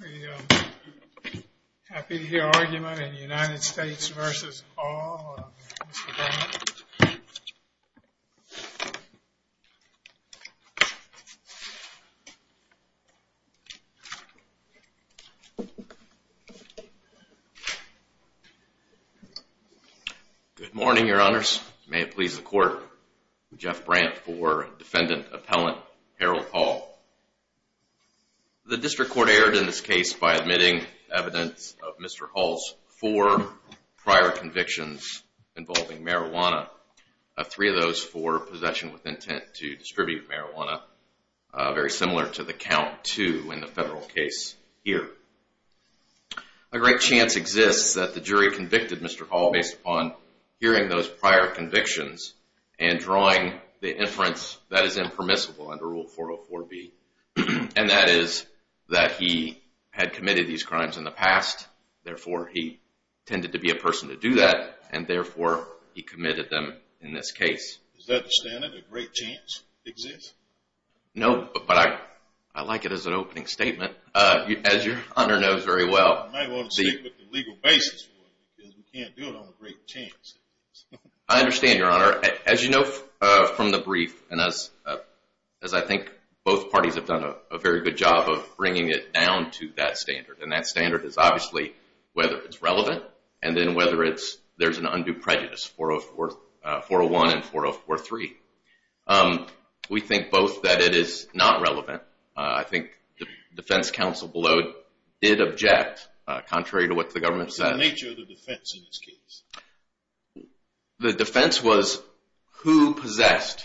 Are you happy to hear argument in United States v. Hall, Mr. Brant? Good morning, Your Honors. May it please the Court, I'm Jeff Brant for Defendant Appellant Harold Hall. The District Court erred in this case by admitting evidence of Mr. Hall's four prior convictions involving marijuana, three of those for possession with intent to distribute marijuana, very similar to the count two in the federal case here. A great chance exists that the jury convicted Mr. Hall based upon hearing those prior convictions and drawing the inference that is impermissible under Rule 404B. And that is that he had committed these crimes in the past, therefore he tended to be a person to do that, and therefore he committed them in this case. Is that the standard, a great chance exists? No, but I like it as an opening statement. As your Honor knows very well. I might want to see what the legal basis is, because we can't do it on a great chance. I understand, Your Honor. As you know from the brief, and as I think both parties have done a very good job of bringing it down to that standard, and that standard is obviously whether it's relevant, and then whether there's an undue prejudice, 401 and 403. We think both that it is not relevant. I think the defense counsel below did object, contrary to what the government said. What was the nature of the defense in this case? The defense was who possessed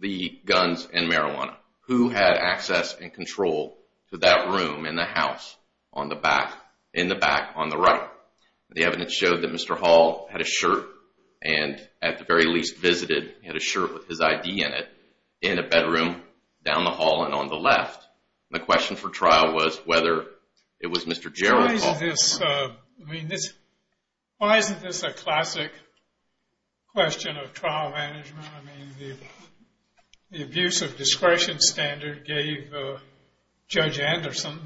the guns and marijuana? Who had access and control to that room in the house in the back on the right? The evidence showed that Mr. Hall had a shirt and at the very least visited, he had a shirt with his ID in it, in a bedroom down the hall and on the left. The question for trial was whether it was Mr. Gerald Hall. Why isn't this a classic question of trial management? The abuse of discretion standard gave Judge Anderson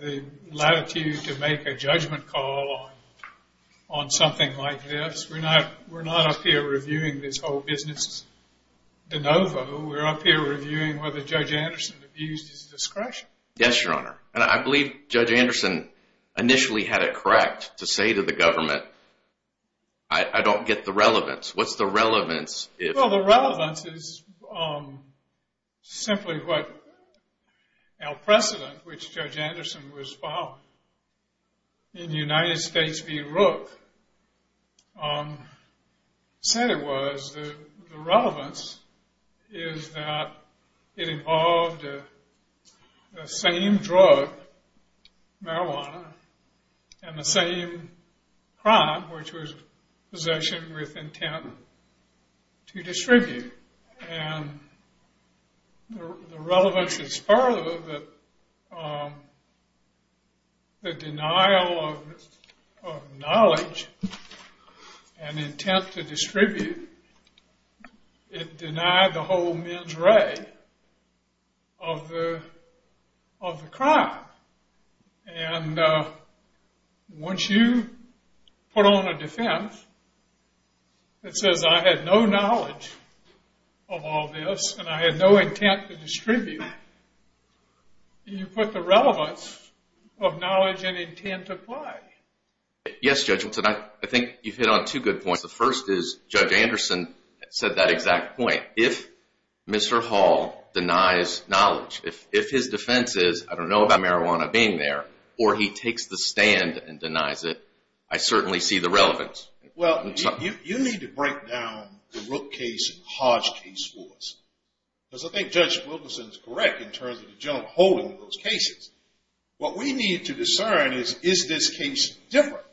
the latitude to make a judgment call on something like this. We're not up here reviewing this whole business de novo. We're up here reviewing whether Judge Anderson abused his discretion. Yes, Your Honor, and I believe Judge Anderson initially had it correct to say to the government, I don't get the relevance. What's the relevance? Well, the relevance is simply what our precedent, which Judge Anderson was following, in the United States v. Rook, said it was. The relevance is that it involved the same drug, marijuana, and the same crime, which was possession with intent to distribute. And the relevance is part of the denial of knowledge and intent to distribute. It denied the whole mens re of the crime. And once you put on a defense that says I had no knowledge of all this, and I had no intent to distribute, you put the relevance of knowledge and intent to play. Yes, Judge Hilton, I think you've hit on two good points. The first is Judge Anderson said that exact point. If Mr. Hall denies knowledge, if his defense is I don't know about marijuana being there, or he takes the stand and denies it, I certainly see the relevance. Well, you need to break down the Rook case and Hodge case for us. Because I think Judge Wilkerson is correct in terms of the general holding of those cases. What we need to discern is, is this case different?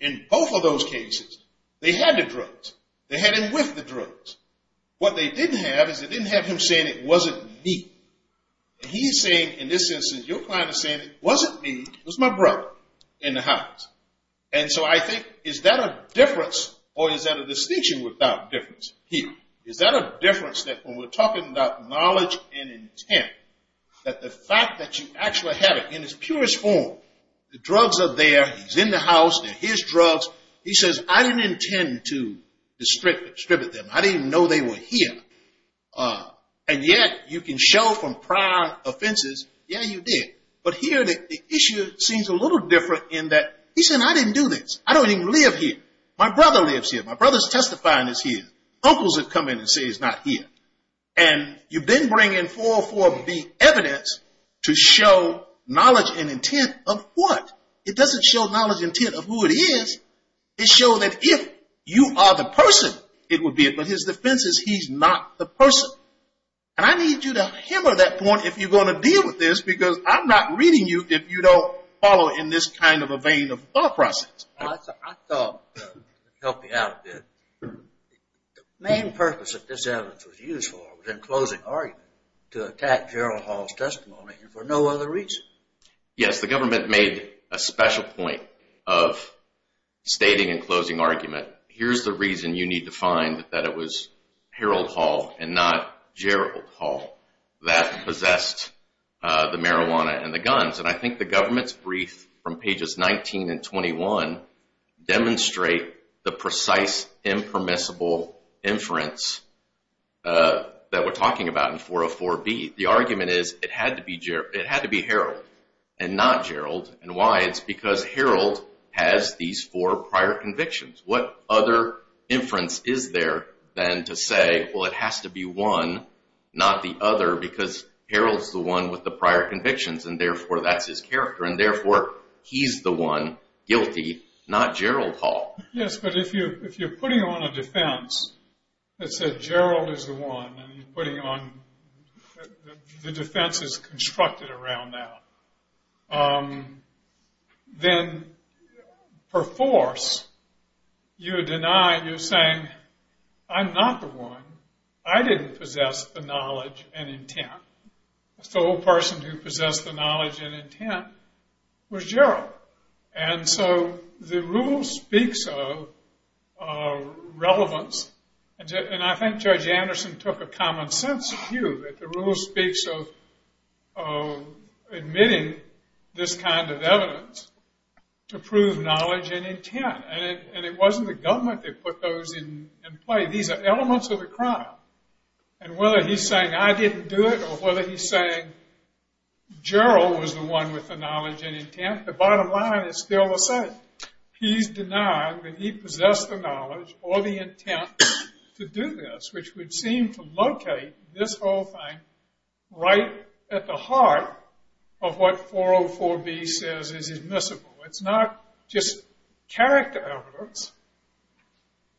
In both of those cases, they had the drugs. They had him with the drugs. What they didn't have is they didn't have him saying it wasn't me. He's saying, in this instance, your client is saying it wasn't me, it was my brother in the house. And so I think is that a difference or is that a distinction without difference here? Is that a difference that when we're talking about knowledge and intent, that the fact that you actually have it in its purest form, the drugs are there, he's in the house, they're his drugs. He says I didn't intend to distribute them. I didn't even know they were here. And yet you can show from prior offenses, yeah, you did. But here the issue seems a little different in that he's saying I didn't do this. I don't even live here. My brother lives here. My brother's testifying is here. Uncles have come in and said he's not here. And you then bring in 404B evidence to show knowledge and intent of what? It doesn't show knowledge and intent of who it is. It shows that if you are the person, it would be it. But his defense is he's not the person. And I need you to hammer that point if you're going to deal with this, because I'm not reading you if you don't follow in this kind of a vein of thought process. I thought it would help me out a bit. The main purpose that this evidence was used for was in closing argument, to attack Gerald Hall's testimony for no other reason. Yes, the government made a special point of stating in closing argument, here's the reason you need to find that it was Harold Hall and not Gerald Hall that possessed the marijuana and the guns. And I think the government's brief from pages 19 and 21 demonstrate the precise, impermissible inference that we're talking about in 404B. The argument is it had to be Harold and not Gerald. And why? It's because Harold has these four prior convictions. What other inference is there than to say, well, it has to be one, not the other, because Harold's the one with the prior convictions, and therefore that's his character, and therefore he's the one guilty, not Gerald Hall. Yes, but if you're putting on a defense that said Gerald is the one, and you're putting on the defenses constructed around that, then per force you're denying, you're saying, I'm not the one. I didn't possess the knowledge and intent. The sole person who possessed the knowledge and intent was Gerald. And so the rule speaks of relevance. And I think Judge Anderson took a common sense view that the rule speaks of admitting this kind of evidence to prove knowledge and intent. And it wasn't the government that put those in play. These are elements of the crime. And whether he's saying, I didn't do it, or whether he's saying Gerald was the one with the knowledge and intent, the bottom line is still the same. He's denying that he possessed the knowledge or the intent to do this, which would seem to locate this whole thing right at the heart of what 404B says is admissible. It's not just character evidence.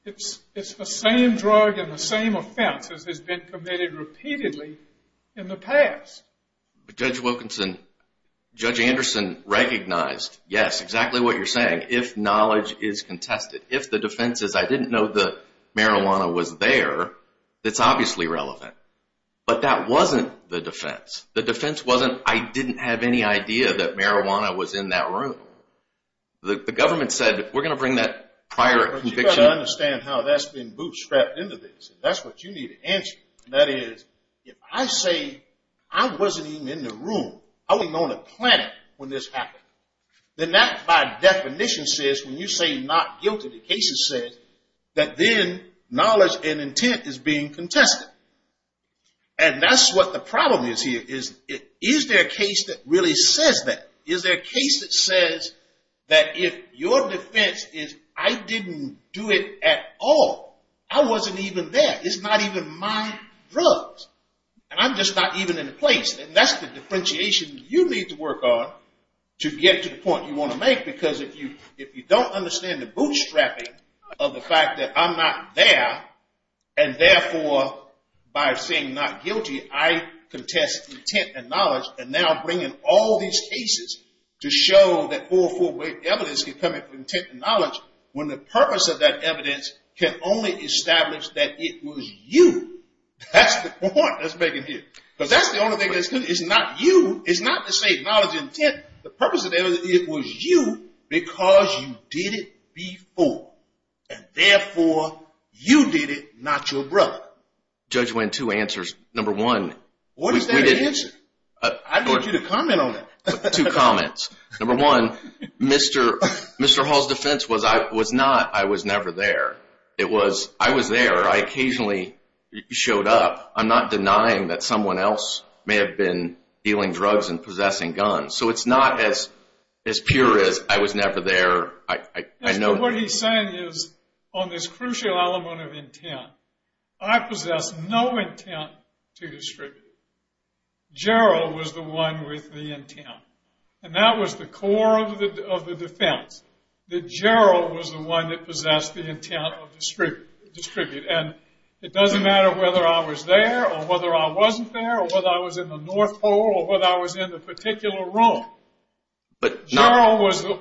It's the same drug and the same offense as has been committed repeatedly in the past. Judge Wilkinson, Judge Anderson recognized, yes, exactly what you're saying. If knowledge is contested, if the defense is I didn't know the marijuana was there, it's obviously relevant. But that wasn't the defense. The defense wasn't I didn't have any idea that marijuana was in that room. The government said we're going to bring that prior conviction. But you've got to understand how that's been bootstrapped into this. That's what you need to answer. That is, if I say I wasn't even in the room, I wasn't on the planet when this happened, then that by definition says, when you say not guilty, the case says that then knowledge and intent is being contested. And that's what the problem is here, is is there a case that really says that? Is there a case that says that if your defense is I didn't do it at all, I wasn't even there. It's not even my drugs. And I'm just not even in the place. And that's the differentiation you need to work on to get to the point you want to make. Because if you don't understand the bootstrapping of the fact that I'm not there, and therefore by saying not guilty, I contest intent and knowledge, and now bring in all these cases to show that full weight evidence can come from intent and knowledge, when the purpose of that evidence can only establish that it was you. That's the point that's making here. Because that's the only thing that's good. It's not you. It's not the same knowledge and intent. The purpose of the evidence is it was you because you did it before. And therefore, you did it, not your brother. Judge Wayne, two answers. Number one, we didn't. What is that answer? I need you to comment on that. Two comments. Number one, Mr. Hall's defense was not, I was never there. It was, I was there. I occasionally showed up. I'm not denying that someone else may have been dealing drugs and possessing guns. So it's not as pure as, I was never there. What he's saying is on this crucial element of intent, I possess no intent to distribute. Gerald was the one with the intent. And that was the core of the defense. That Gerald was the one that possessed the intent of distribute. And it doesn't matter whether I was there or whether I wasn't there or whether I was in the North Pole or whether I was in the particular room. Gerald was the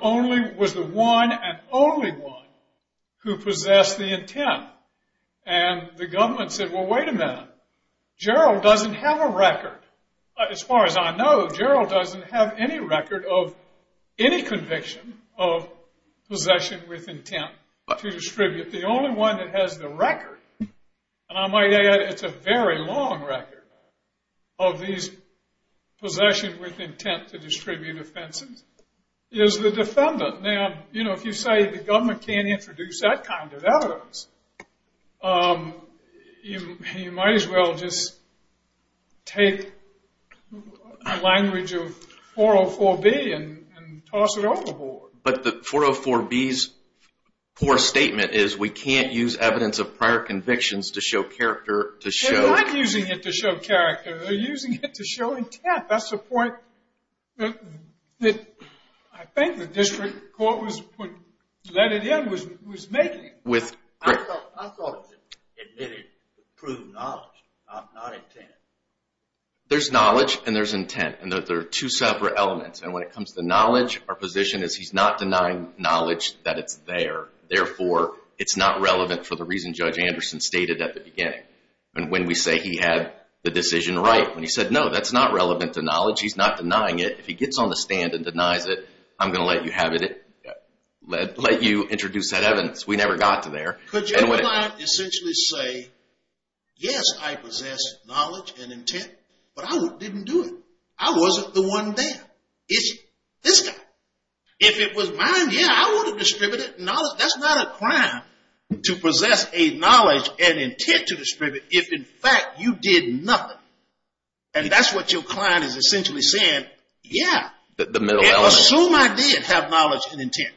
one and only one who possessed the intent. And the government said, well, wait a minute. Gerald doesn't have a record. As far as I know, Gerald doesn't have any record of any conviction of possession with intent to distribute. The only one that has the record, and I might add it's a very long record, of these possession with intent to distribute offenses is the defendant. Now, if you say the government can't introduce that kind of evidence, you might as well just take the language of 404B and toss it overboard. But the 404B's poor statement is we can't use evidence of prior convictions to show character to show. They're not using it to show character. They're using it to show intent. That's the point that I think the district court would let it in, was making it. I thought it admitted to prove knowledge, not intent. There's knowledge and there's intent, and they're two separate elements. And when it comes to knowledge, our position is he's not denying knowledge that it's there. Therefore, it's not relevant for the reason Judge Anderson stated at the beginning. And when we say he had the decision right, when he said, no, that's not relevant to knowledge, he's not denying it. If he gets on the stand and denies it, I'm going to let you introduce that evidence. We never got to there. Could your client essentially say, yes, I possess knowledge and intent, but I didn't do it. I wasn't the one there. It's this guy. If it was mine, yeah, I would have distributed knowledge. That's not a crime to possess a knowledge and intent to distribute if, in fact, you did nothing. And that's what your client is essentially saying, yeah. Assume I did have knowledge and intent,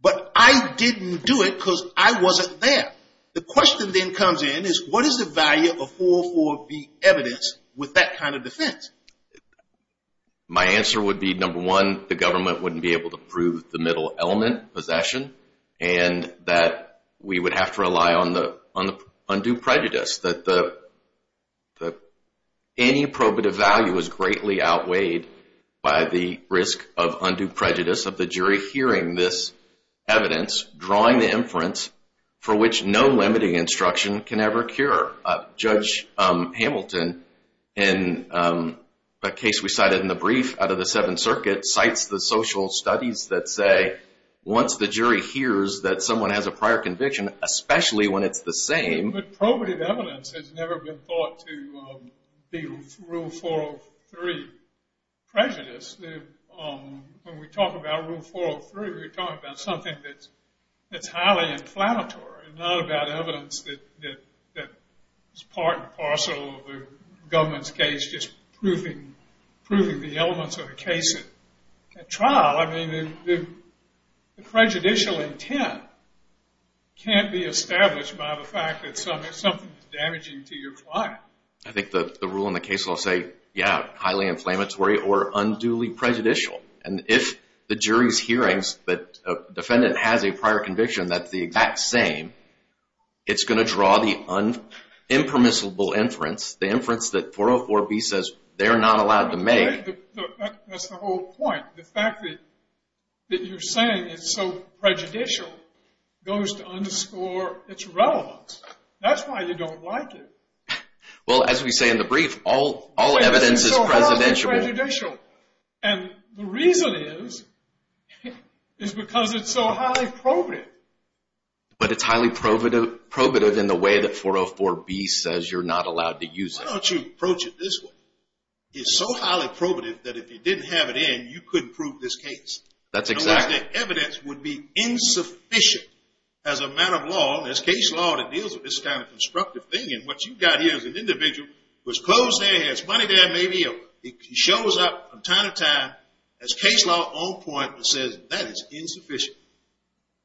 but I didn't do it because I wasn't there. The question then comes in is what is the value of 404B evidence with that kind of defense? My answer would be, number one, the government wouldn't be able to prove the middle element, possession, and that we would have to rely on the undue prejudice. Any probative value is greatly outweighed by the risk of undue prejudice of the jury hearing this evidence, drawing the inference for which no limiting instruction can ever cure. Judge Hamilton, in a case we cited in the brief out of the Seventh Circuit, cites the social studies that say once the jury hears that someone has a prior conviction, especially when it's the same. But probative evidence has never been thought to be Rule 403 prejudice. When we talk about Rule 403, we're talking about something that's highly inflammatory and not about evidence that is part and parcel of the government's case, just proving the elements of the case at trial. I mean, the prejudicial intent can't be established by the fact that something is damaging to your client. I think the rule in the case will say, yeah, highly inflammatory or unduly prejudicial. And if the jury's hearings that a defendant has a prior conviction that's the exact same, it's going to draw the impermissible inference, the inference that 404B says they're not allowed to make. That's the whole point. The fact that you're saying it's so prejudicial goes to underscore its relevance. That's why you don't like it. Well, as we say in the brief, all evidence is prejudicial. And the reason is, is because it's so highly probative. But it's highly probative in the way that 404B says you're not allowed to use it. Why don't you approach it this way? It's so highly probative that if you didn't have it in, you couldn't prove this case. That's exact. Otherwise the evidence would be insufficient as a matter of law, and there's case law that deals with this kind of constructive thing. And what you've got here is an individual who's close there, has money there, maybe he shows up from time to time. There's case law on point that says that is insufficient.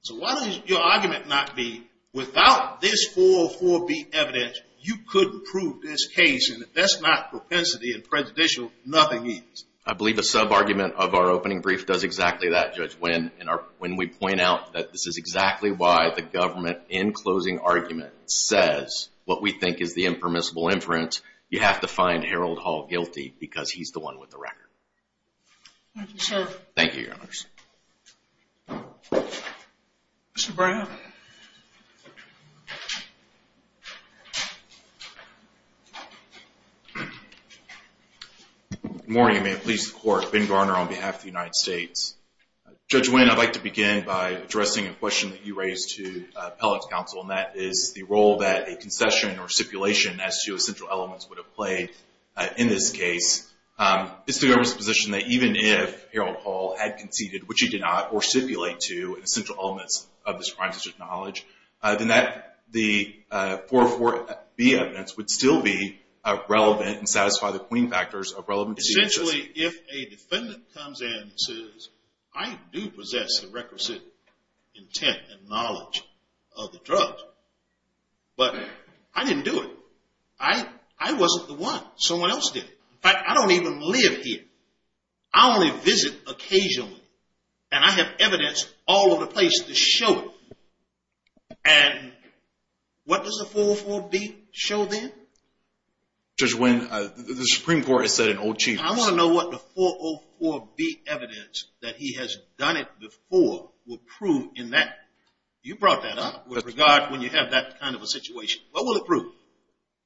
So why doesn't your argument not be without this 404B evidence, you couldn't prove this case? And if that's not propensity and prejudicial, nothing is. I believe a sub-argument of our opening brief does exactly that, Judge Winn. And when we point out that this is exactly why the government, in closing argument, says what we think is the impermissible inference, you have to find Harold Hall guilty because he's the one with the record. Thank you, sir. Thank you, Your Honor. Mr. Brown. Good morning, and may it please the Court. Ben Garner on behalf of the United States. Judge Winn, I'd like to begin by addressing a question that you raised to appellate's counsel, and that is the role that a concession or stipulation as to essential elements would have played in this case. Is the government's position that even if Harold Hall had conceded, which he did not, or stipulate to essential elements of this prime subject knowledge, then that the 404B evidence would still be relevant and satisfy the clean factors of relevancy? Essentially, if a defendant comes in and says, I do possess the requisite intent and knowledge of the drug, but I didn't do it. I wasn't the one. Someone else did it. In fact, I don't even live here. I only visit occasionally, and I have evidence all over the place to show it. And what does the 404B show then? Judge Winn, the Supreme Court has said in Old Chiefs. I want to know what the 404B evidence that he has done it before will prove in that. You brought that up with regard when you have that kind of a situation. What will it prove?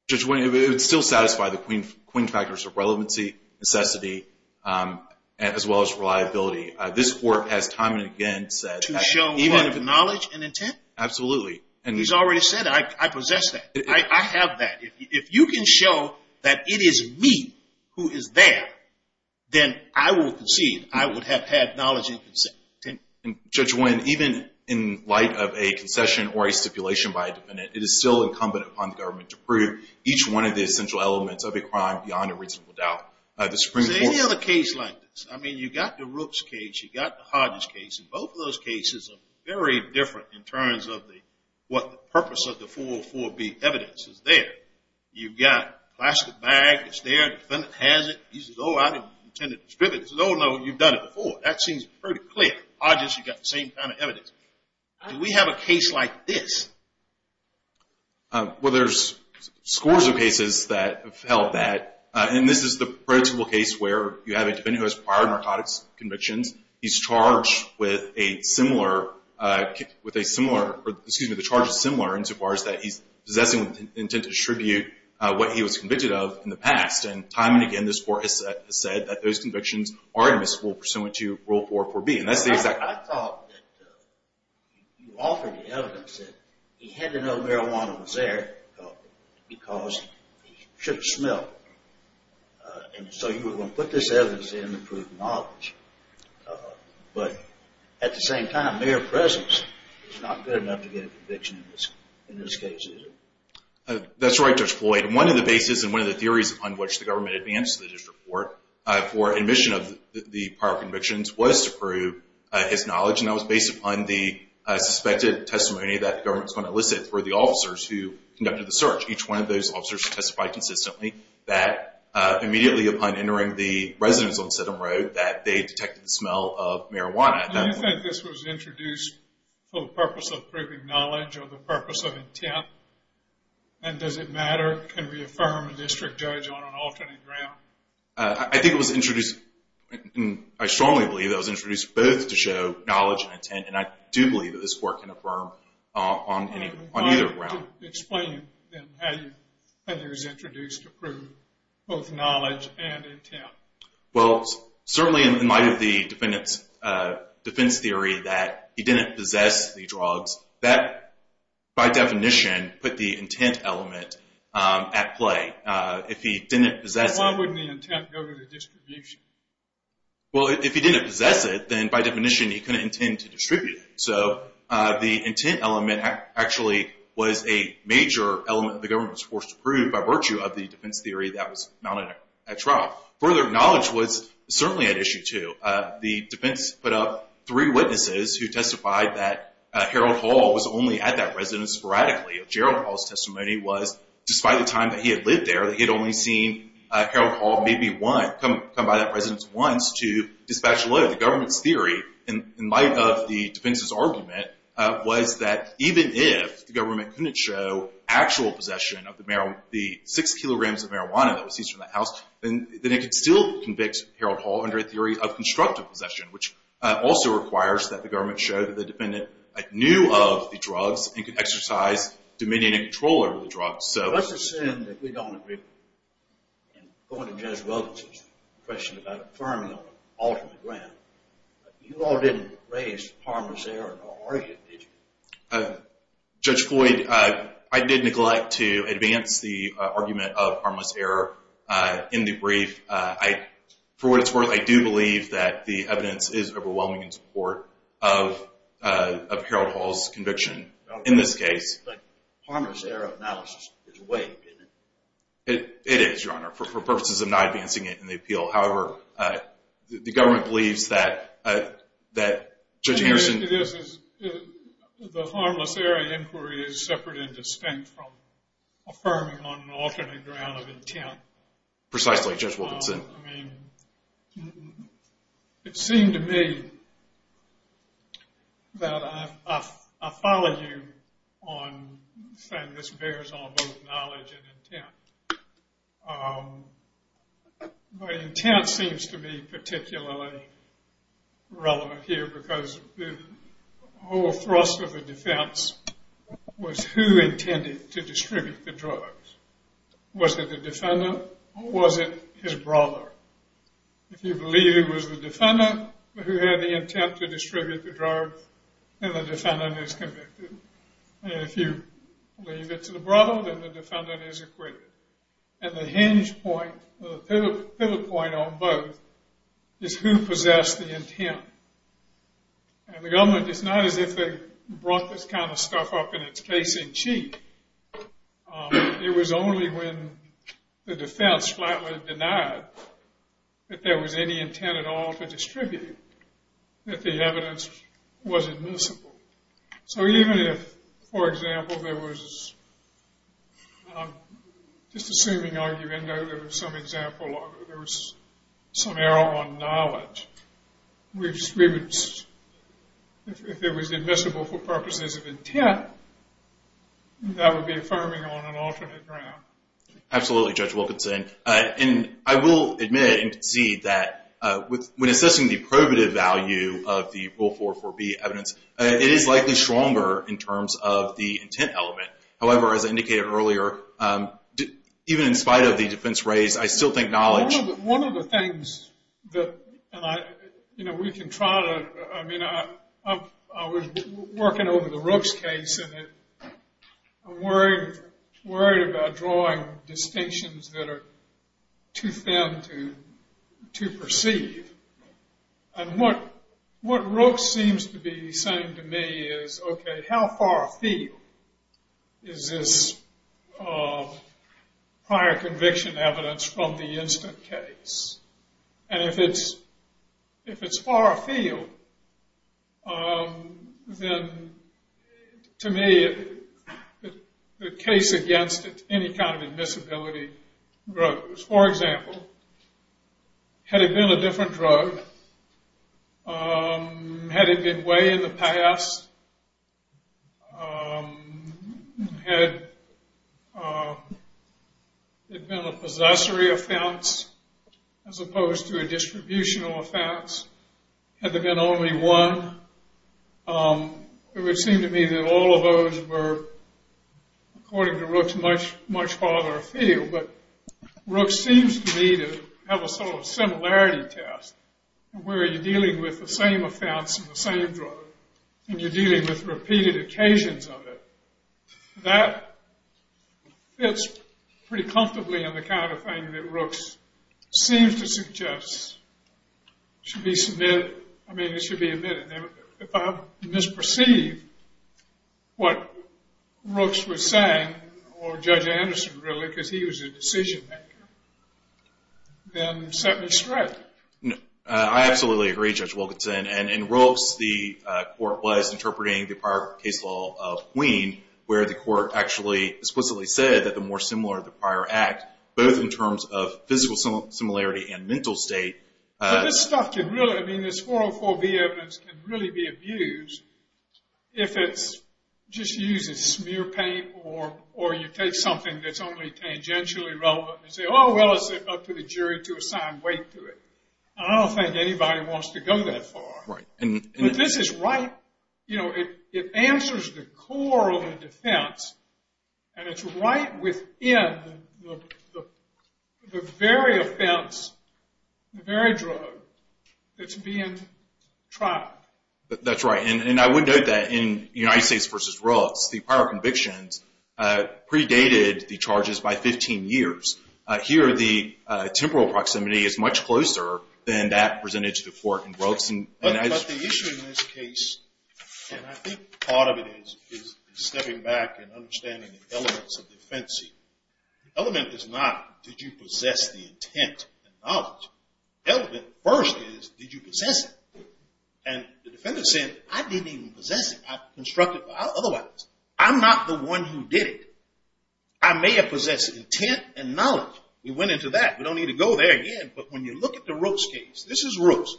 Judge Winn, it would still satisfy the clean factors of relevancy, necessity, as well as reliability. This Court has time and again said that. To show knowledge and intent? Absolutely. He's already said, I possess that. I have that. If you can show that it is me who is there, then I will concede. I would have had knowledge and intent. Judge Winn, even in light of a concession or a stipulation by a defendant, it is still incumbent upon the government to prove each one of the essential elements of a crime beyond a reasonable doubt. The Supreme Court. Any other case like this. I mean, you've got the Rooks case. You've got the Hodges case. Both of those cases are very different in terms of what the purpose of the 404B evidence is there. You've got a plastic bag. It's there. The defendant has it. He says, oh, I didn't intend to distribute it. He says, oh, no, you've done it before. That seems pretty clear. Hodges, you've got the same kind of evidence. Do we have a case like this? Well, there's scores of cases that have held that. And this is the predictable case where you have a defendant who has prior narcotics convictions. He's charged with a similar or, excuse me, the charge is similar insofar as that he's possessing with the intent to distribute what he was convicted of in the past. And time and again, this Court has said that those convictions are admissible pursuant to Rule 404B. And that's the exact. I thought that you offered the evidence that he had to know marijuana was there because he should have smelled it. And so you were going to put this evidence in to prove knowledge. But at the same time, mere presence is not good enough to get a conviction in this case, is it? That's right, Judge Floyd. One of the bases and one of the theories on which the government advanced the district court for admission of the prior convictions was to prove his knowledge, and that was based upon the suspected testimony that the government was going to elicit through the officers who conducted the search. Each one of those officers testified consistently that immediately upon entering the residence on Sydenham Road that they detected the smell of marijuana at that point. Do you think this was introduced for the purpose of proving knowledge or the purpose of intent? And does it matter? Can we affirm a district judge on an alternate ground? I think it was introduced, and I strongly believe it was introduced both to show knowledge and intent. And I do believe that this Court can affirm on either ground. How do you explain then how it was introduced to prove both knowledge and intent? Well, certainly in light of the defense theory that he didn't possess the drugs, that by definition put the intent element at play. If he didn't possess it. Then why wouldn't the intent go to the distribution? Well, if he didn't possess it, then by definition he couldn't intend to distribute it. So the intent element actually was a major element that the government was forced to prove by virtue of the defense theory that was mounted at trial. Further, knowledge was certainly at issue too. The defense put up three witnesses who testified that Harold Hall was only at that residence sporadically. Gerald Hall's testimony was, despite the time that he had lived there, that he had only seen Harold Hall maybe come by that residence once to dispatch a load. So in light of the government's theory, in light of the defense's argument, was that even if the government couldn't show actual possession of the six kilograms of marijuana that was seized from that house, then it could still convict Harold Hall under a theory of constructive possession, which also requires that the government show that the defendant knew of the drugs and could exercise dominion and control over the drugs. What's the sin that we don't agree with? And going to Judge Weldon's question about affirming an ultimate ground, you all didn't raise harmless error in our argument, did you? Judge Floyd, I did neglect to advance the argument of harmless error in the brief. For what it's worth, I do believe that the evidence is overwhelming in support of Harold Hall's conviction in this case. But harmless error analysis is weak, isn't it? It is, Your Honor, for purposes of not advancing it in the appeal. However, the government believes that Judge Anderson— The harmless error inquiry is separate and distinct from affirming on an alternate ground of intent. Precisely, Judge Wilkinson. I mean, it seemed to me that I follow you on saying this bears on both knowledge and intent. But intent seems to be particularly relevant here because the whole thrust of the defense was who intended to distribute the drugs. Was it the defendant or was it his brother? If you believe it was the defendant who had the intent to distribute the drugs, then the defendant is convicted. And if you believe it's the brother, then the defendant is acquitted. And the hinge point, the pivot point on both, is who possessed the intent. And the government, it's not as if they brought this kind of stuff up in its case in cheat. It was only when the defense flatly denied that there was any intent at all to distribute that the evidence was admissible. So even if, for example, there was— I'm just assuming, argumentatively, there was some error on knowledge. If it was admissible for purposes of intent, that would be affirming on an alternate ground. Absolutely, Judge Wilkinson. And I will admit and concede that when assessing the probative value of the Rule 4.4b evidence, it is likely stronger in terms of the intent element. However, as I indicated earlier, even in spite of the defense raised, I still think knowledge— One of the things that we can try to—I mean, I was working over the Rooks case, and I'm worried about drawing distinctions that are too thin to perceive. And what Rooks seems to be saying to me is, okay, how far afield is this prior conviction evidence from the instant case? And if it's far afield, then to me, the case against it, any kind of admissibility grows. For example, had it been a different drug? Had it been way in the past? Had it been a possessory offense as opposed to a distributional offense? Had there been only one? It would seem to me that all of those were, according to Rooks, much farther afield. But Rooks seems to me to have a sort of similarity test, where you're dealing with the same offense and the same drug, and you're dealing with repeated occasions of it. That fits pretty comfortably in the kind of thing that Rooks seems to suggest should be submitted— I mean, it should be admitted. If I misperceive what Rooks was saying, or Judge Anderson, really, because he was a decision-maker, then set me straight. I absolutely agree, Judge Wilkinson. And in Rooks, the court was interpreting the prior case law of Queen, where the court actually explicitly said that the more similar the prior act, both in terms of physical similarity and mental state— I mean, this 404B evidence can really be abused if it's just used as smear paint or you take something that's only tangentially relevant and say, oh, well, it's up to the jury to assign weight to it. I don't think anybody wants to go that far. But this is right—it answers the core of the defense, and it's right within the very offense, the very drug that's being tried. That's right. And I would note that in United States v. Rooks, the prior convictions predated the charges by 15 years. Here, the temporal proximity is much closer than that presented to the court in Rooks. But the issue in this case—and I think part of it is stepping back and understanding the elements of the defense here. The element is not, did you possess the intent and knowledge? The element first is, did you possess it? And the defendant's saying, I didn't even possess it. I constructed it otherwise. I'm not the one who did it. I may have possessed intent and knowledge. We went into that. We don't need to go there again. But when you look at the Rooks case—this is Rooks.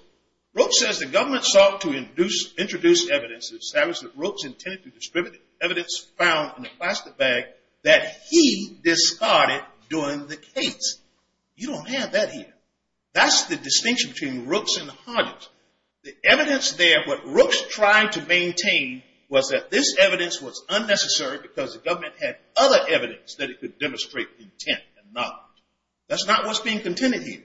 Rooks says the government sought to introduce evidence and established that Rooks intended to distribute evidence found in a plastic bag that he discarded during the case. You don't have that here. That's the distinction between Rooks and Hodges. The evidence there, what Rooks tried to maintain, was that this evidence was unnecessary because the government had other evidence that it could demonstrate intent and knowledge. That's not what's being contended here.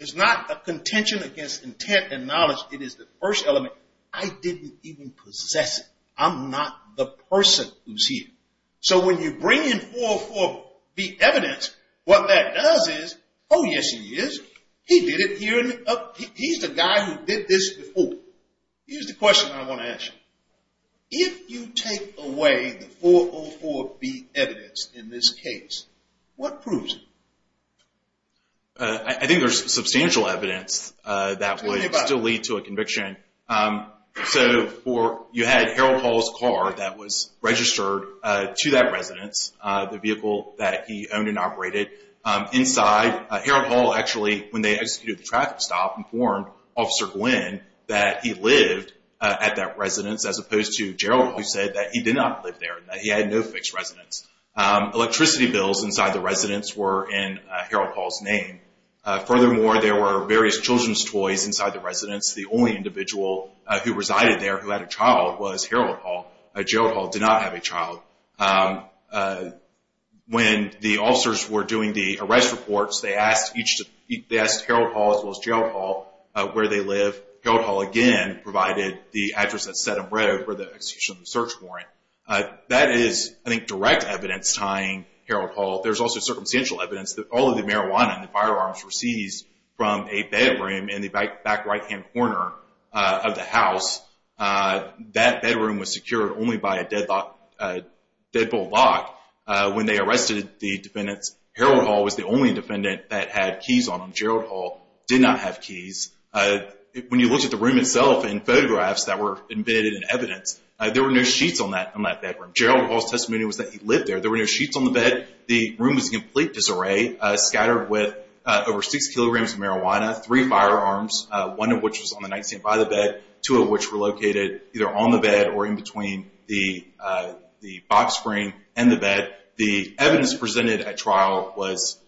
It's not a contention against intent and knowledge. It is the first element, I didn't even possess it. I'm not the person who's here. So when you bring in 404B evidence, what that does is, oh, yes, he is. He did it here. He's the guy who did this before. Here's the question I want to ask you. If you take away the 404B evidence in this case, what proves it? I think there's substantial evidence that would still lead to a conviction. So you had Harold Hall's car that was registered to that residence, the vehicle that he owned and operated. Inside, Harold Hall actually, when they executed the traffic stop, informed Officer Glynn that he lived at that residence, as opposed to Gerald Hall who said that he did not live there, that he had no fixed residence. Electricity bills inside the residence were in Harold Hall's name. Furthermore, there were various children's toys inside the residence. The only individual who resided there who had a child was Harold Hall. Gerald Hall did not have a child. When the officers were doing the arrest reports, they asked Harold Hall as well as Gerald Hall where they live. Harold Hall, again, provided the address at Sedham Road for the execution of the search warrant. That is, I think, direct evidence tying Harold Hall. There's also circumstantial evidence that all of the marijuana and the firearms were seized from a bedroom in the back right-hand corner of the house. That bedroom was secured only by a deadbolt lock. When they arrested the defendants, Harold Hall was the only defendant that had keys on him. Gerald Hall did not have keys. When you look at the room itself and photographs that were embedded in evidence, there were no sheets on that bedroom. Gerald Hall's testimony was that he lived there. There were no sheets on the bed. The room was in complete disarray, scattered with over 6 kilograms of marijuana, three firearms, one of which was on the nightstand by the bed, two of which were located either on the bed or in between the box screen and the bed. The evidence presented at trial was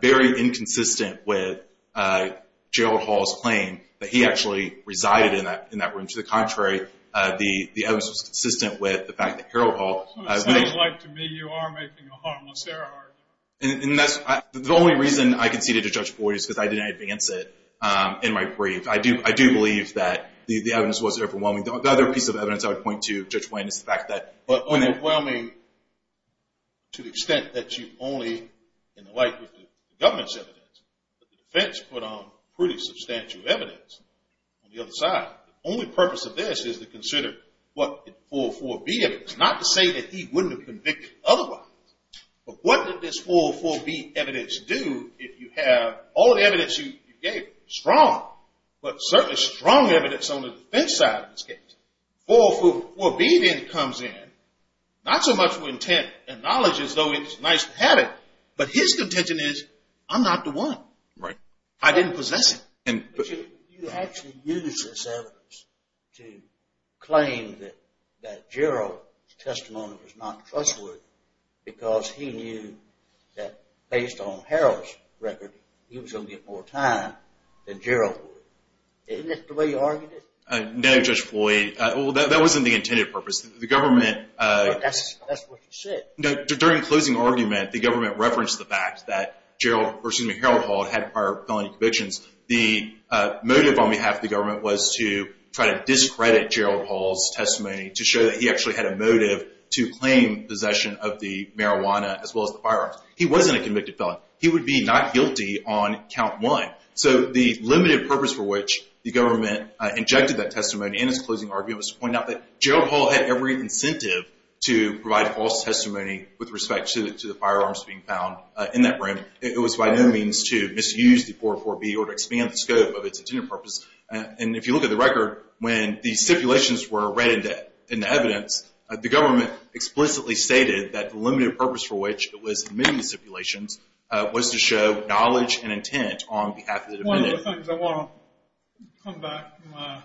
very inconsistent with Gerald Hall's claim that he actually resided in that room. To the contrary, the evidence was consistent with the fact that Harold Hall— It sounds like to me you are making a harmless error argument. The only reason I conceded to Judge Boyd is because I didn't advance it in my brief. I do believe that the evidence was overwhelming. The other piece of evidence I would point to, Judge Wayne, is the fact that— Overwhelming to the extent that you only, in the light of the government's evidence, but the defense put on pretty substantial evidence on the other side. The only purpose of this is to consider what the 404B evidence— not to say that he wouldn't have been convicted otherwise, but what did this 404B evidence do if you have all the evidence you gave, strong, but certainly strong evidence on the defense side of this case. 404B then comes in, not so much with intent and knowledge as though it's nice to have it, but his contention is, I'm not the one. I didn't possess it. You actually used this evidence to claim that Gerald's testimony was not trustworthy because he knew that based on Harold's record, he was going to get more time than Gerald would. Isn't that the way you argued it? No, Judge Boyd. That wasn't the intended purpose. The government— That's what you said. During the closing argument, the government referenced the fact that Harold Hall had prior felony convictions. The motive on behalf of the government was to try to discredit Gerald Hall's testimony to show that he actually had a motive to claim possession of the marijuana as well as the firearms. He wasn't a convicted felon. He would be not guilty on count one. So the limited purpose for which the government injected that testimony in its closing argument was to point out that Gerald Hall had every incentive to provide false testimony with respect to the firearms being found in that room. It was by no means to misuse the 404B or to expand the scope of its intended purpose. And if you look at the record, when the stipulations were read in the evidence, the government explicitly stated that the limited purpose for which it was admitting the stipulations was to show knowledge and intent on behalf of the defendant. One of the things I want to come back to my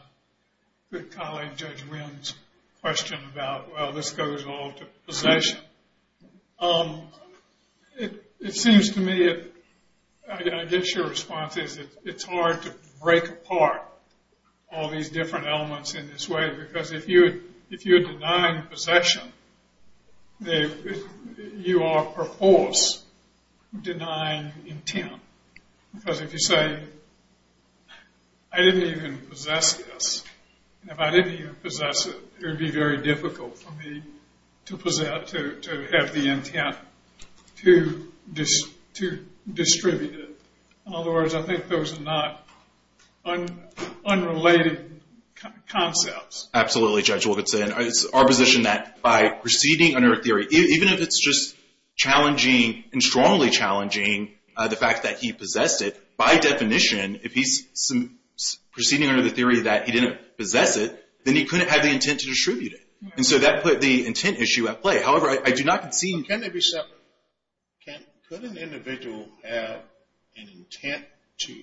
good colleague Judge Wynn's question about, well, this goes all to possession. It seems to me, I guess your response is it's hard to break apart all these different elements in this way because if you're denying possession, you are perforce denying intent. Because if you say, I didn't even possess this, and if I didn't even possess it, it would be very difficult for me to have the intent to distribute it. In other words, I think those are not unrelated concepts. Absolutely, Judge Wilkinson. It's our position that by proceeding under a theory, even if it's just challenging and strongly challenging the fact that he possessed it, by definition, if he's proceeding under the theory that he didn't possess it, then he couldn't have the intent to distribute it. And so that put the intent issue at play. However, I do not concede. But can they be separate? Could an individual have an intent to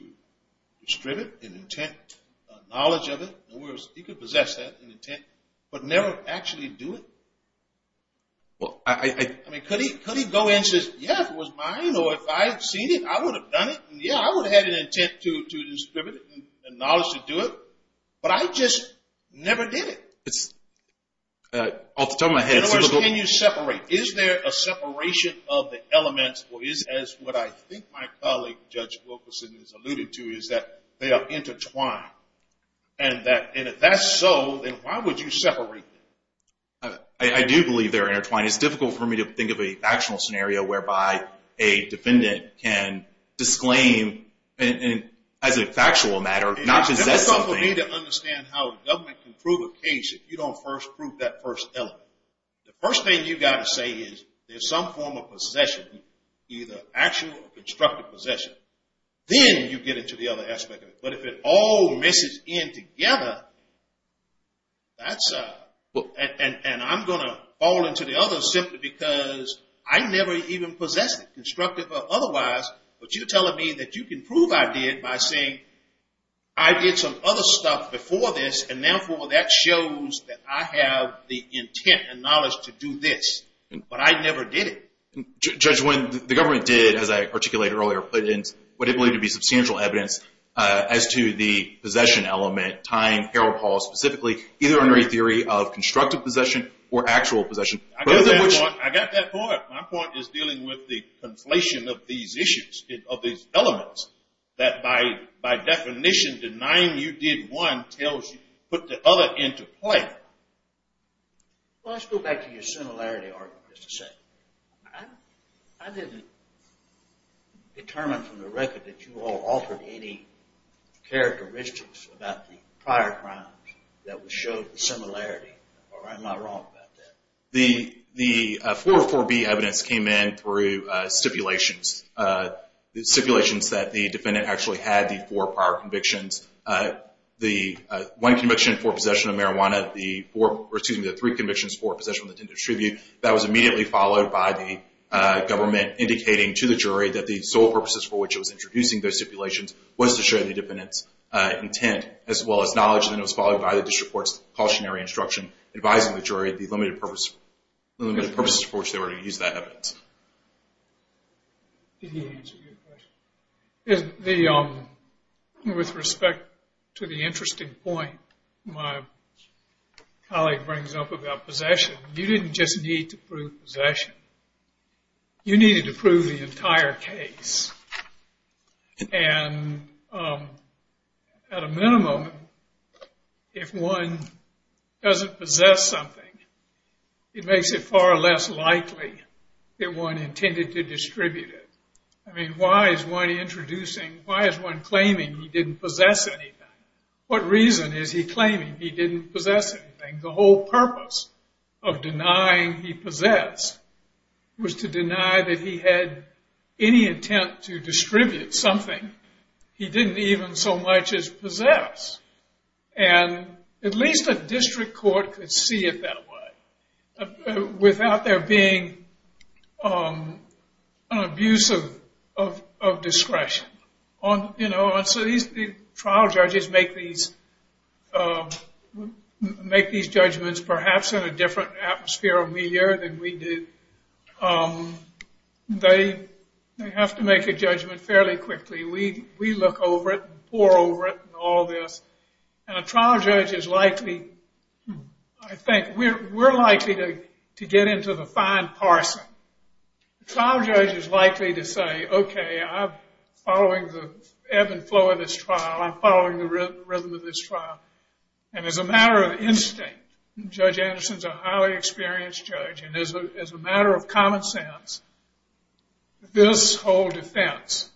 distribute, an intent, a knowledge of it? In other words, he could possess that, an intent, but never actually do it? I mean, could he go in and say, yeah, if it was mine or if I had seen it, I would have done it. Yeah, I would have had an intent to distribute it and knowledge to do it. But I just never did it. It's off the top of my head. In other words, can you separate? Is there a separation of the elements, or is, as what I think my colleague, Judge Wilkinson, has alluded to, is that they are intertwined. And if that's so, then why would you separate them? I do believe they're intertwined. It's difficult for me to think of a factional scenario whereby a defendant can disclaim, as a factual matter, not possess something. It's difficult for me to understand how a government can prove a case if you don't first prove that first element. The first thing you've got to say is there's some form of possession, either actual or constructive possession. Then you get into the other aspect of it. But if it all messes in together, and I'm going to fall into the other simply because I never even possessed it, constructive or otherwise. But you're telling me that you can prove I did by saying I did some other stuff before this, and therefore that shows that I have the intent and knowledge to do this. But I never did it. Judge, when the government did, as I articulated earlier, put in what it believed to be substantial evidence, as to the possession element tying Harold Hall specifically, either under a theory of constructive possession or actual possession. I got that point. My point is dealing with the conflation of these issues, of these elements, that by definition denying you did one tells you put the other into play. Well, let's go back to your similarity argument, just a second. I didn't determine from the record that you all altered any characteristics about the prior crimes that would show the similarity, or I'm not wrong about that. The 404B evidence came in through stipulations, stipulations that the defendant actually had the four prior convictions. The one conviction for possession of marijuana, the four, or excuse me, the three convictions for possession of the intended attribute. That was immediately followed by the government indicating to the jury that the sole purposes for which it was introducing those stipulations was to show the defendant's intent, as well as knowledge, and it was followed by the district court's cautionary instruction advising the jury the limited purposes for which they were going to use that evidence. Did he answer your question? With respect to the interesting point my colleague brings up about possession, you didn't just need to prove possession. You needed to prove the entire case. And at a minimum, if one doesn't possess something, it makes it far less likely that one intended to distribute it. I mean, why is one introducing, why is one claiming he didn't possess anything? What reason is he claiming he didn't possess anything? The whole purpose of denying he possessed was to deny that he had any intent to distribute something he didn't even so much as possess. And at least a district court could see it that way. Without there being an abuse of discretion. And so these trial judges make these judgments perhaps in a different atmosphere of media than we do. They have to make a judgment fairly quickly. We look over it, pour over it, and all this. And a trial judge is likely, I think, we're likely to get into the fine parsing. A trial judge is likely to say, okay, I'm following the ebb and flow of this trial. I'm following the rhythm of this trial. And as a matter of instinct, Judge Anderson's a highly experienced judge, and as a matter of common sense, this whole defense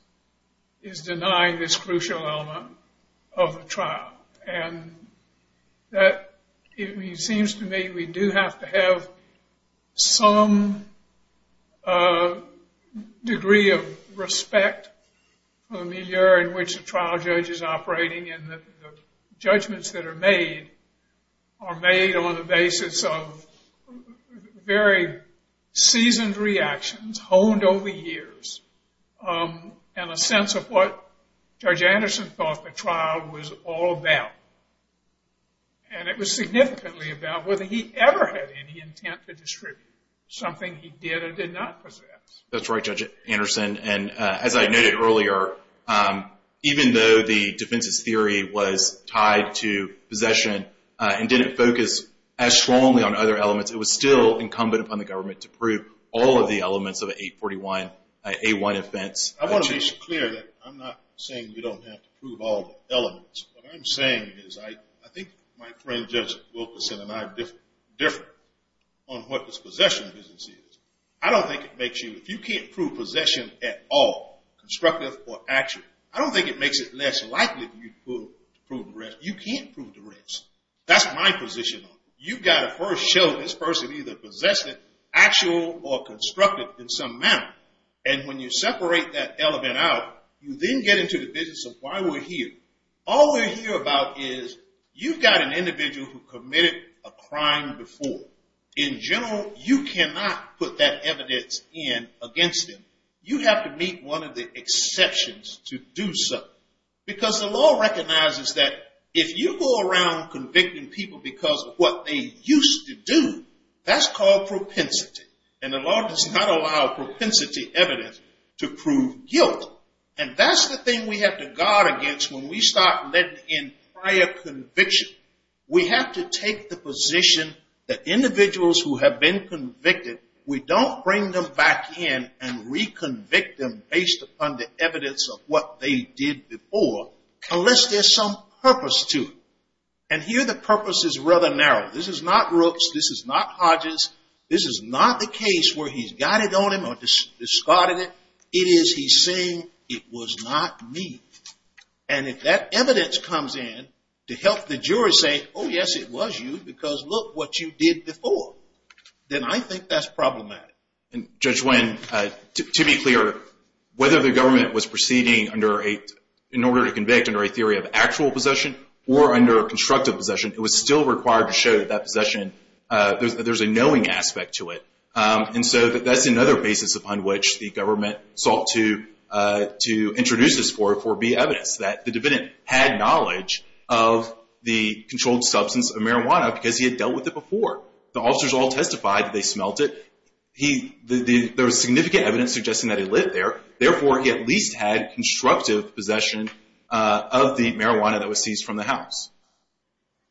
is denying this crucial element of the trial. And that seems to me we do have to have some degree of respect for the media in which the trial judge is operating. And the judgments that are made are made on the basis of very seasoned reactions honed over years. And a sense of what Judge Anderson thought the trial was all about. And it was significantly about whether he ever had any intent to distribute something he did or did not possess. That's right, Judge Anderson. And as I noted earlier, even though the defense's theory was tied to possession and didn't focus as strongly on other elements, it was still incumbent upon the government to prove all of the elements of an 841A1 offense. I want to make it clear that I'm not saying you don't have to prove all the elements. What I'm saying is I think my friend Judge Wilkerson and I are different on what this possession business is. I don't think it makes you – if you can't prove possession at all, constructive or actual, I don't think it makes it less likely for you to prove the rest. You can't prove the rest. That's my position on it. You've got to first show this person either possessed it, actual or constructive in some manner. And when you separate that element out, you then get into the business of why we're here. All we're here about is you've got an individual who committed a crime before. In general, you cannot put that evidence in against him. You have to meet one of the exceptions to do so. Because the law recognizes that if you go around convicting people because of what they used to do, that's called propensity. And the law does not allow propensity evidence to prove guilt. And that's the thing we have to guard against when we start letting in prior conviction. We have to take the position that individuals who have been convicted, we don't bring them back in and reconvict them based upon the evidence of what they did before, unless there's some purpose to it. And here the purpose is rather narrow. This is not Brooks. This is not Hodges. This is not the case where he's got it on him or discarded it. It is he's saying it was not me. And if that evidence comes in to help the jury say, oh, yes, it was you because look what you did before, then I think that's problematic. And Judge Nguyen, to be clear, whether the government was proceeding in order to convict under a theory of actual possession or under constructive possession, it was still required to show that that possession, there's a knowing aspect to it. And so that's another basis upon which the government sought to introduce this 4B evidence, that the defendant had knowledge of the controlled substance of marijuana because he had dealt with it before. The officers all testified that they smelled it. There was significant evidence suggesting that he lived there. Therefore, he at least had constructive possession of the marijuana that was seized from the house.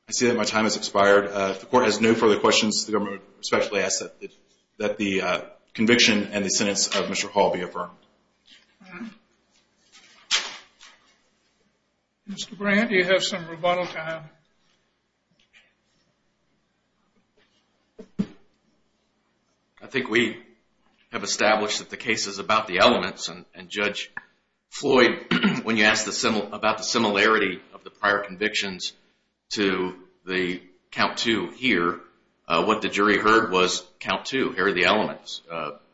I see that my time has expired. If the court has no further questions, the government respectfully asks that the conviction and the sentence of Mr. Hall be affirmed. Mr. Brandt, you have some rebuttal time. I think we have established that the case is about the elements, and Judge Floyd, when you asked about the similarity of the prior convictions to the Count II here, what the jury heard was Count II, here are the elements,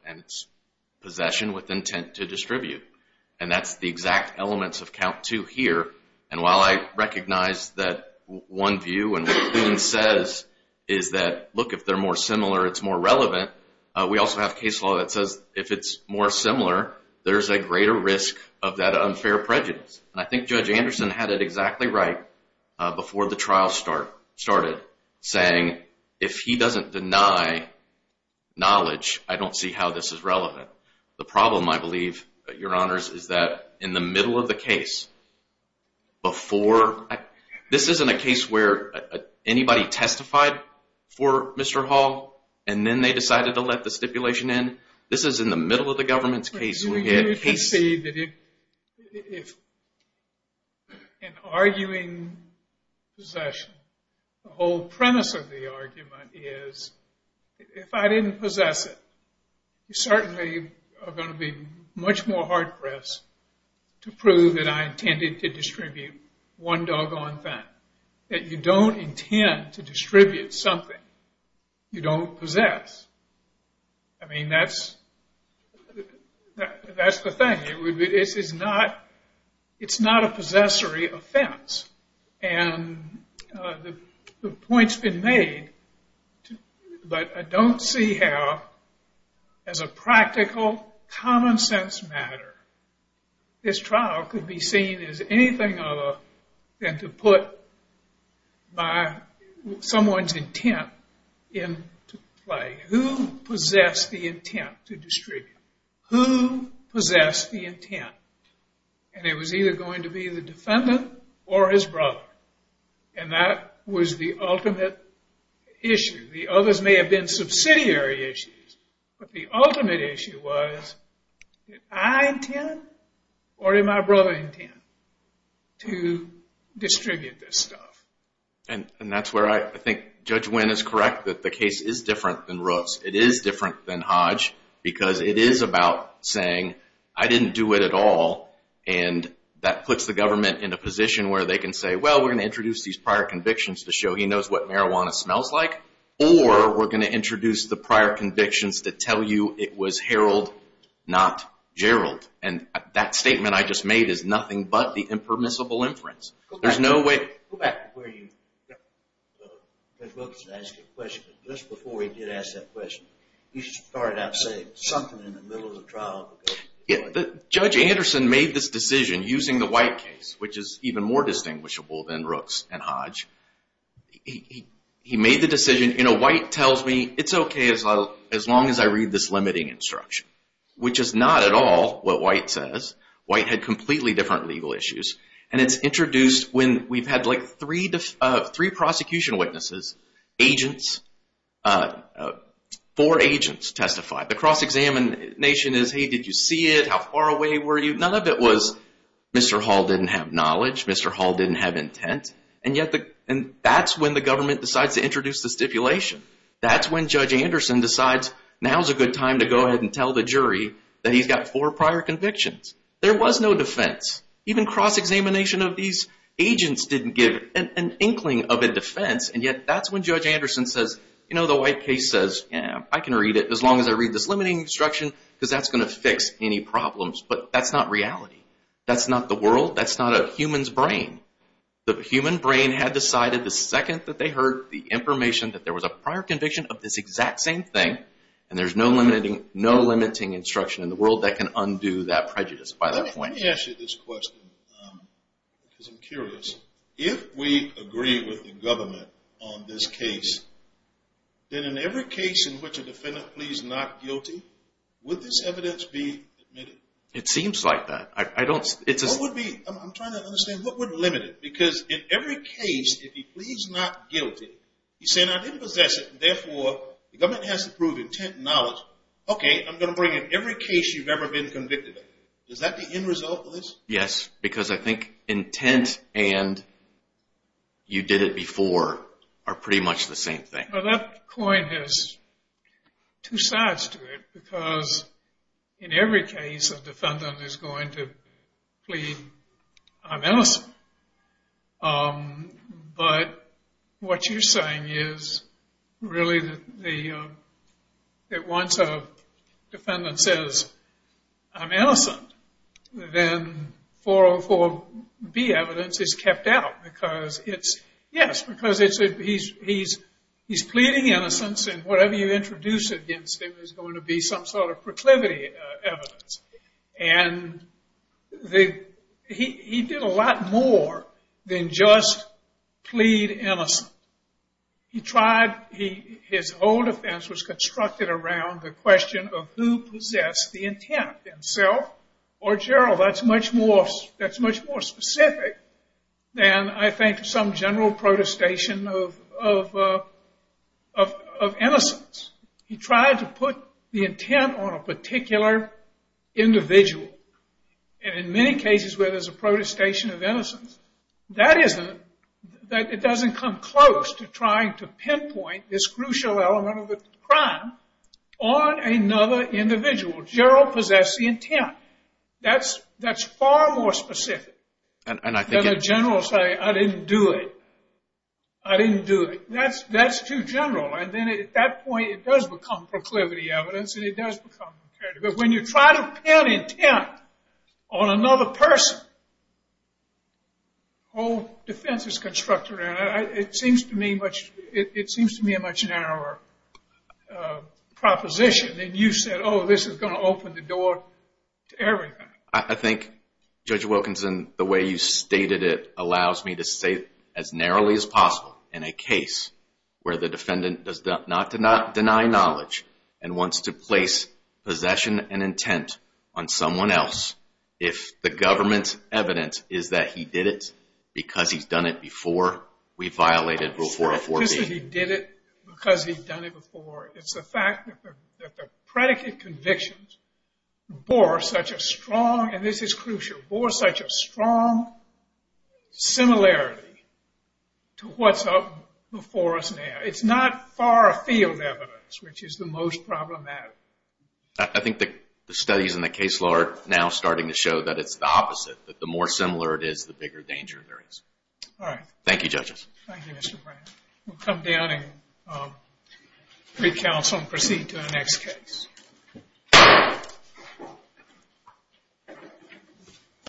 and it's possession with intent to distribute. And that's the exact elements of Count II here. And while I recognize that one view and what Nguyen says is that, look, if they're more similar, it's more relevant, we also have case law that says if it's more similar, there's a greater risk of that unfair prejudice. And I think Judge Anderson had it exactly right before the trial started, saying, if he doesn't deny knowledge, I don't see how this is relevant. The problem, I believe, Your Honors, is that in the middle of the case, before, this isn't a case where anybody testified for Mr. Hall, and then they decided to let the stipulation in. This is in the middle of the government's case. We can see that if in arguing possession, the whole premise of the argument is, if I didn't possess it, you certainly are going to be much more hard-pressed to prove that I intended to distribute one doggone thing. That you don't intend to distribute something you don't possess. I mean, that's the thing. It's not a possessory offense. And the point's been made, but I don't see how, as a practical, common-sense matter, this trial could be seen as anything other than to put someone's intent into play. Who possessed the intent to distribute? Who possessed the intent? And it was either going to be the defendant or his brother. And that was the ultimate issue. The others may have been subsidiary issues, but the ultimate issue was, did I intend or did my brother intend to distribute this stuff? And that's where I think Judge Wynn is correct, that the case is different than Ruth's. It is different than Hodge, because it is about saying, I didn't do it at all, and that puts the government in a position where they can say, well, we're going to introduce these prior convictions to show he knows what marijuana smells like, or we're going to introduce the prior convictions to tell you it was Harold, not Gerald. And that statement I just made is nothing but the impermissible inference. Go back to where you got Judge Wilkins to ask you a question. Just before he did ask that question, he started out saying something in the middle of the trial. Judge Anderson made this decision using the White case, which is even more distinguishable than Rooks and Hodge. He made the decision, you know, White tells me it's okay as long as I read this limiting instruction, which is not at all what White says. White had completely different legal issues. And it's introduced when we've had like three prosecution witnesses, agents, four agents testify. The cross-examination is, hey, did you see it? How far away were you? None of it was Mr. Hall didn't have knowledge, Mr. Hall didn't have intent. And that's when the government decides to introduce the stipulation. That's when Judge Anderson decides now's a good time to go ahead and tell the jury that he's got four prior convictions. There was no defense. Even cross-examination of these agents didn't give an inkling of a defense, and yet that's when Judge Anderson says, you know, the White case says, yeah, I can read it as long as I read this limiting instruction because that's going to fix any problems. But that's not reality. That's not the world. That's not a human's brain. The human brain had decided the second that they heard the information that there was a prior conviction of this exact same thing, and there's no limiting instruction in the world that can undo that prejudice by that point. Let me ask you this question because I'm curious. If we agree with the government on this case, then in every case in which a defendant pleads not guilty, would this evidence be admitted? It seems like that. I don't – What would be – I'm trying to understand what would limit it? Because in every case, if he pleads not guilty, he's saying I didn't possess it, and therefore the government has to prove intent and knowledge. Okay, I'm going to bring in every case you've ever been convicted of. Is that the end result of this? Yes, because I think intent and you did it before are pretty much the same thing. Well, that coin has two sides to it because in every case a defendant is going to plead I'm innocent. But what you're saying is really that once a defendant says I'm innocent, then 404B evidence is kept out because it's – yes, because he's pleading innocence, and whatever you introduce against him is going to be some sort of proclivity evidence. And he did a lot more than just plead innocent. He tried – his whole defense was constructed around the question of who possessed the intent, himself or Gerald. That's much more specific than I think some general protestation of innocence. He tried to put the intent on a particular individual. And in many cases where there's a protestation of innocence, that isn't – it doesn't come close to trying to pinpoint this crucial element of the crime on another individual. Gerald possessed the intent. That's far more specific than a general saying I didn't do it. I didn't do it. That's too general. And then at that point it does become proclivity evidence and it does become imperative. But when you try to pin intent on another person, the whole defense is constructed around it. It seems to me much – it seems to me a much narrower proposition than you said, oh, this is going to open the door to everything. I think, Judge Wilkinson, the way you stated it allows me to say as narrowly as possible, in a case where the defendant does not deny knowledge and wants to place possession and intent on someone else, if the government's evidence is that he did it because he's done it before, we violated Rule 404B. It's not just that he did it because he's done it before. It's the fact that the predicate convictions bore such a strong – and this is crucial – bore such a strong similarity to what's up before us now. It's not far-field evidence, which is the most problematic. I think the studies in the case law are now starting to show that it's the opposite, that the more similar it is, the bigger danger there is. All right. Thank you, Judges. Thank you, Mr. Brandt. We'll come down and recounsel and proceed to the next case. Thank you.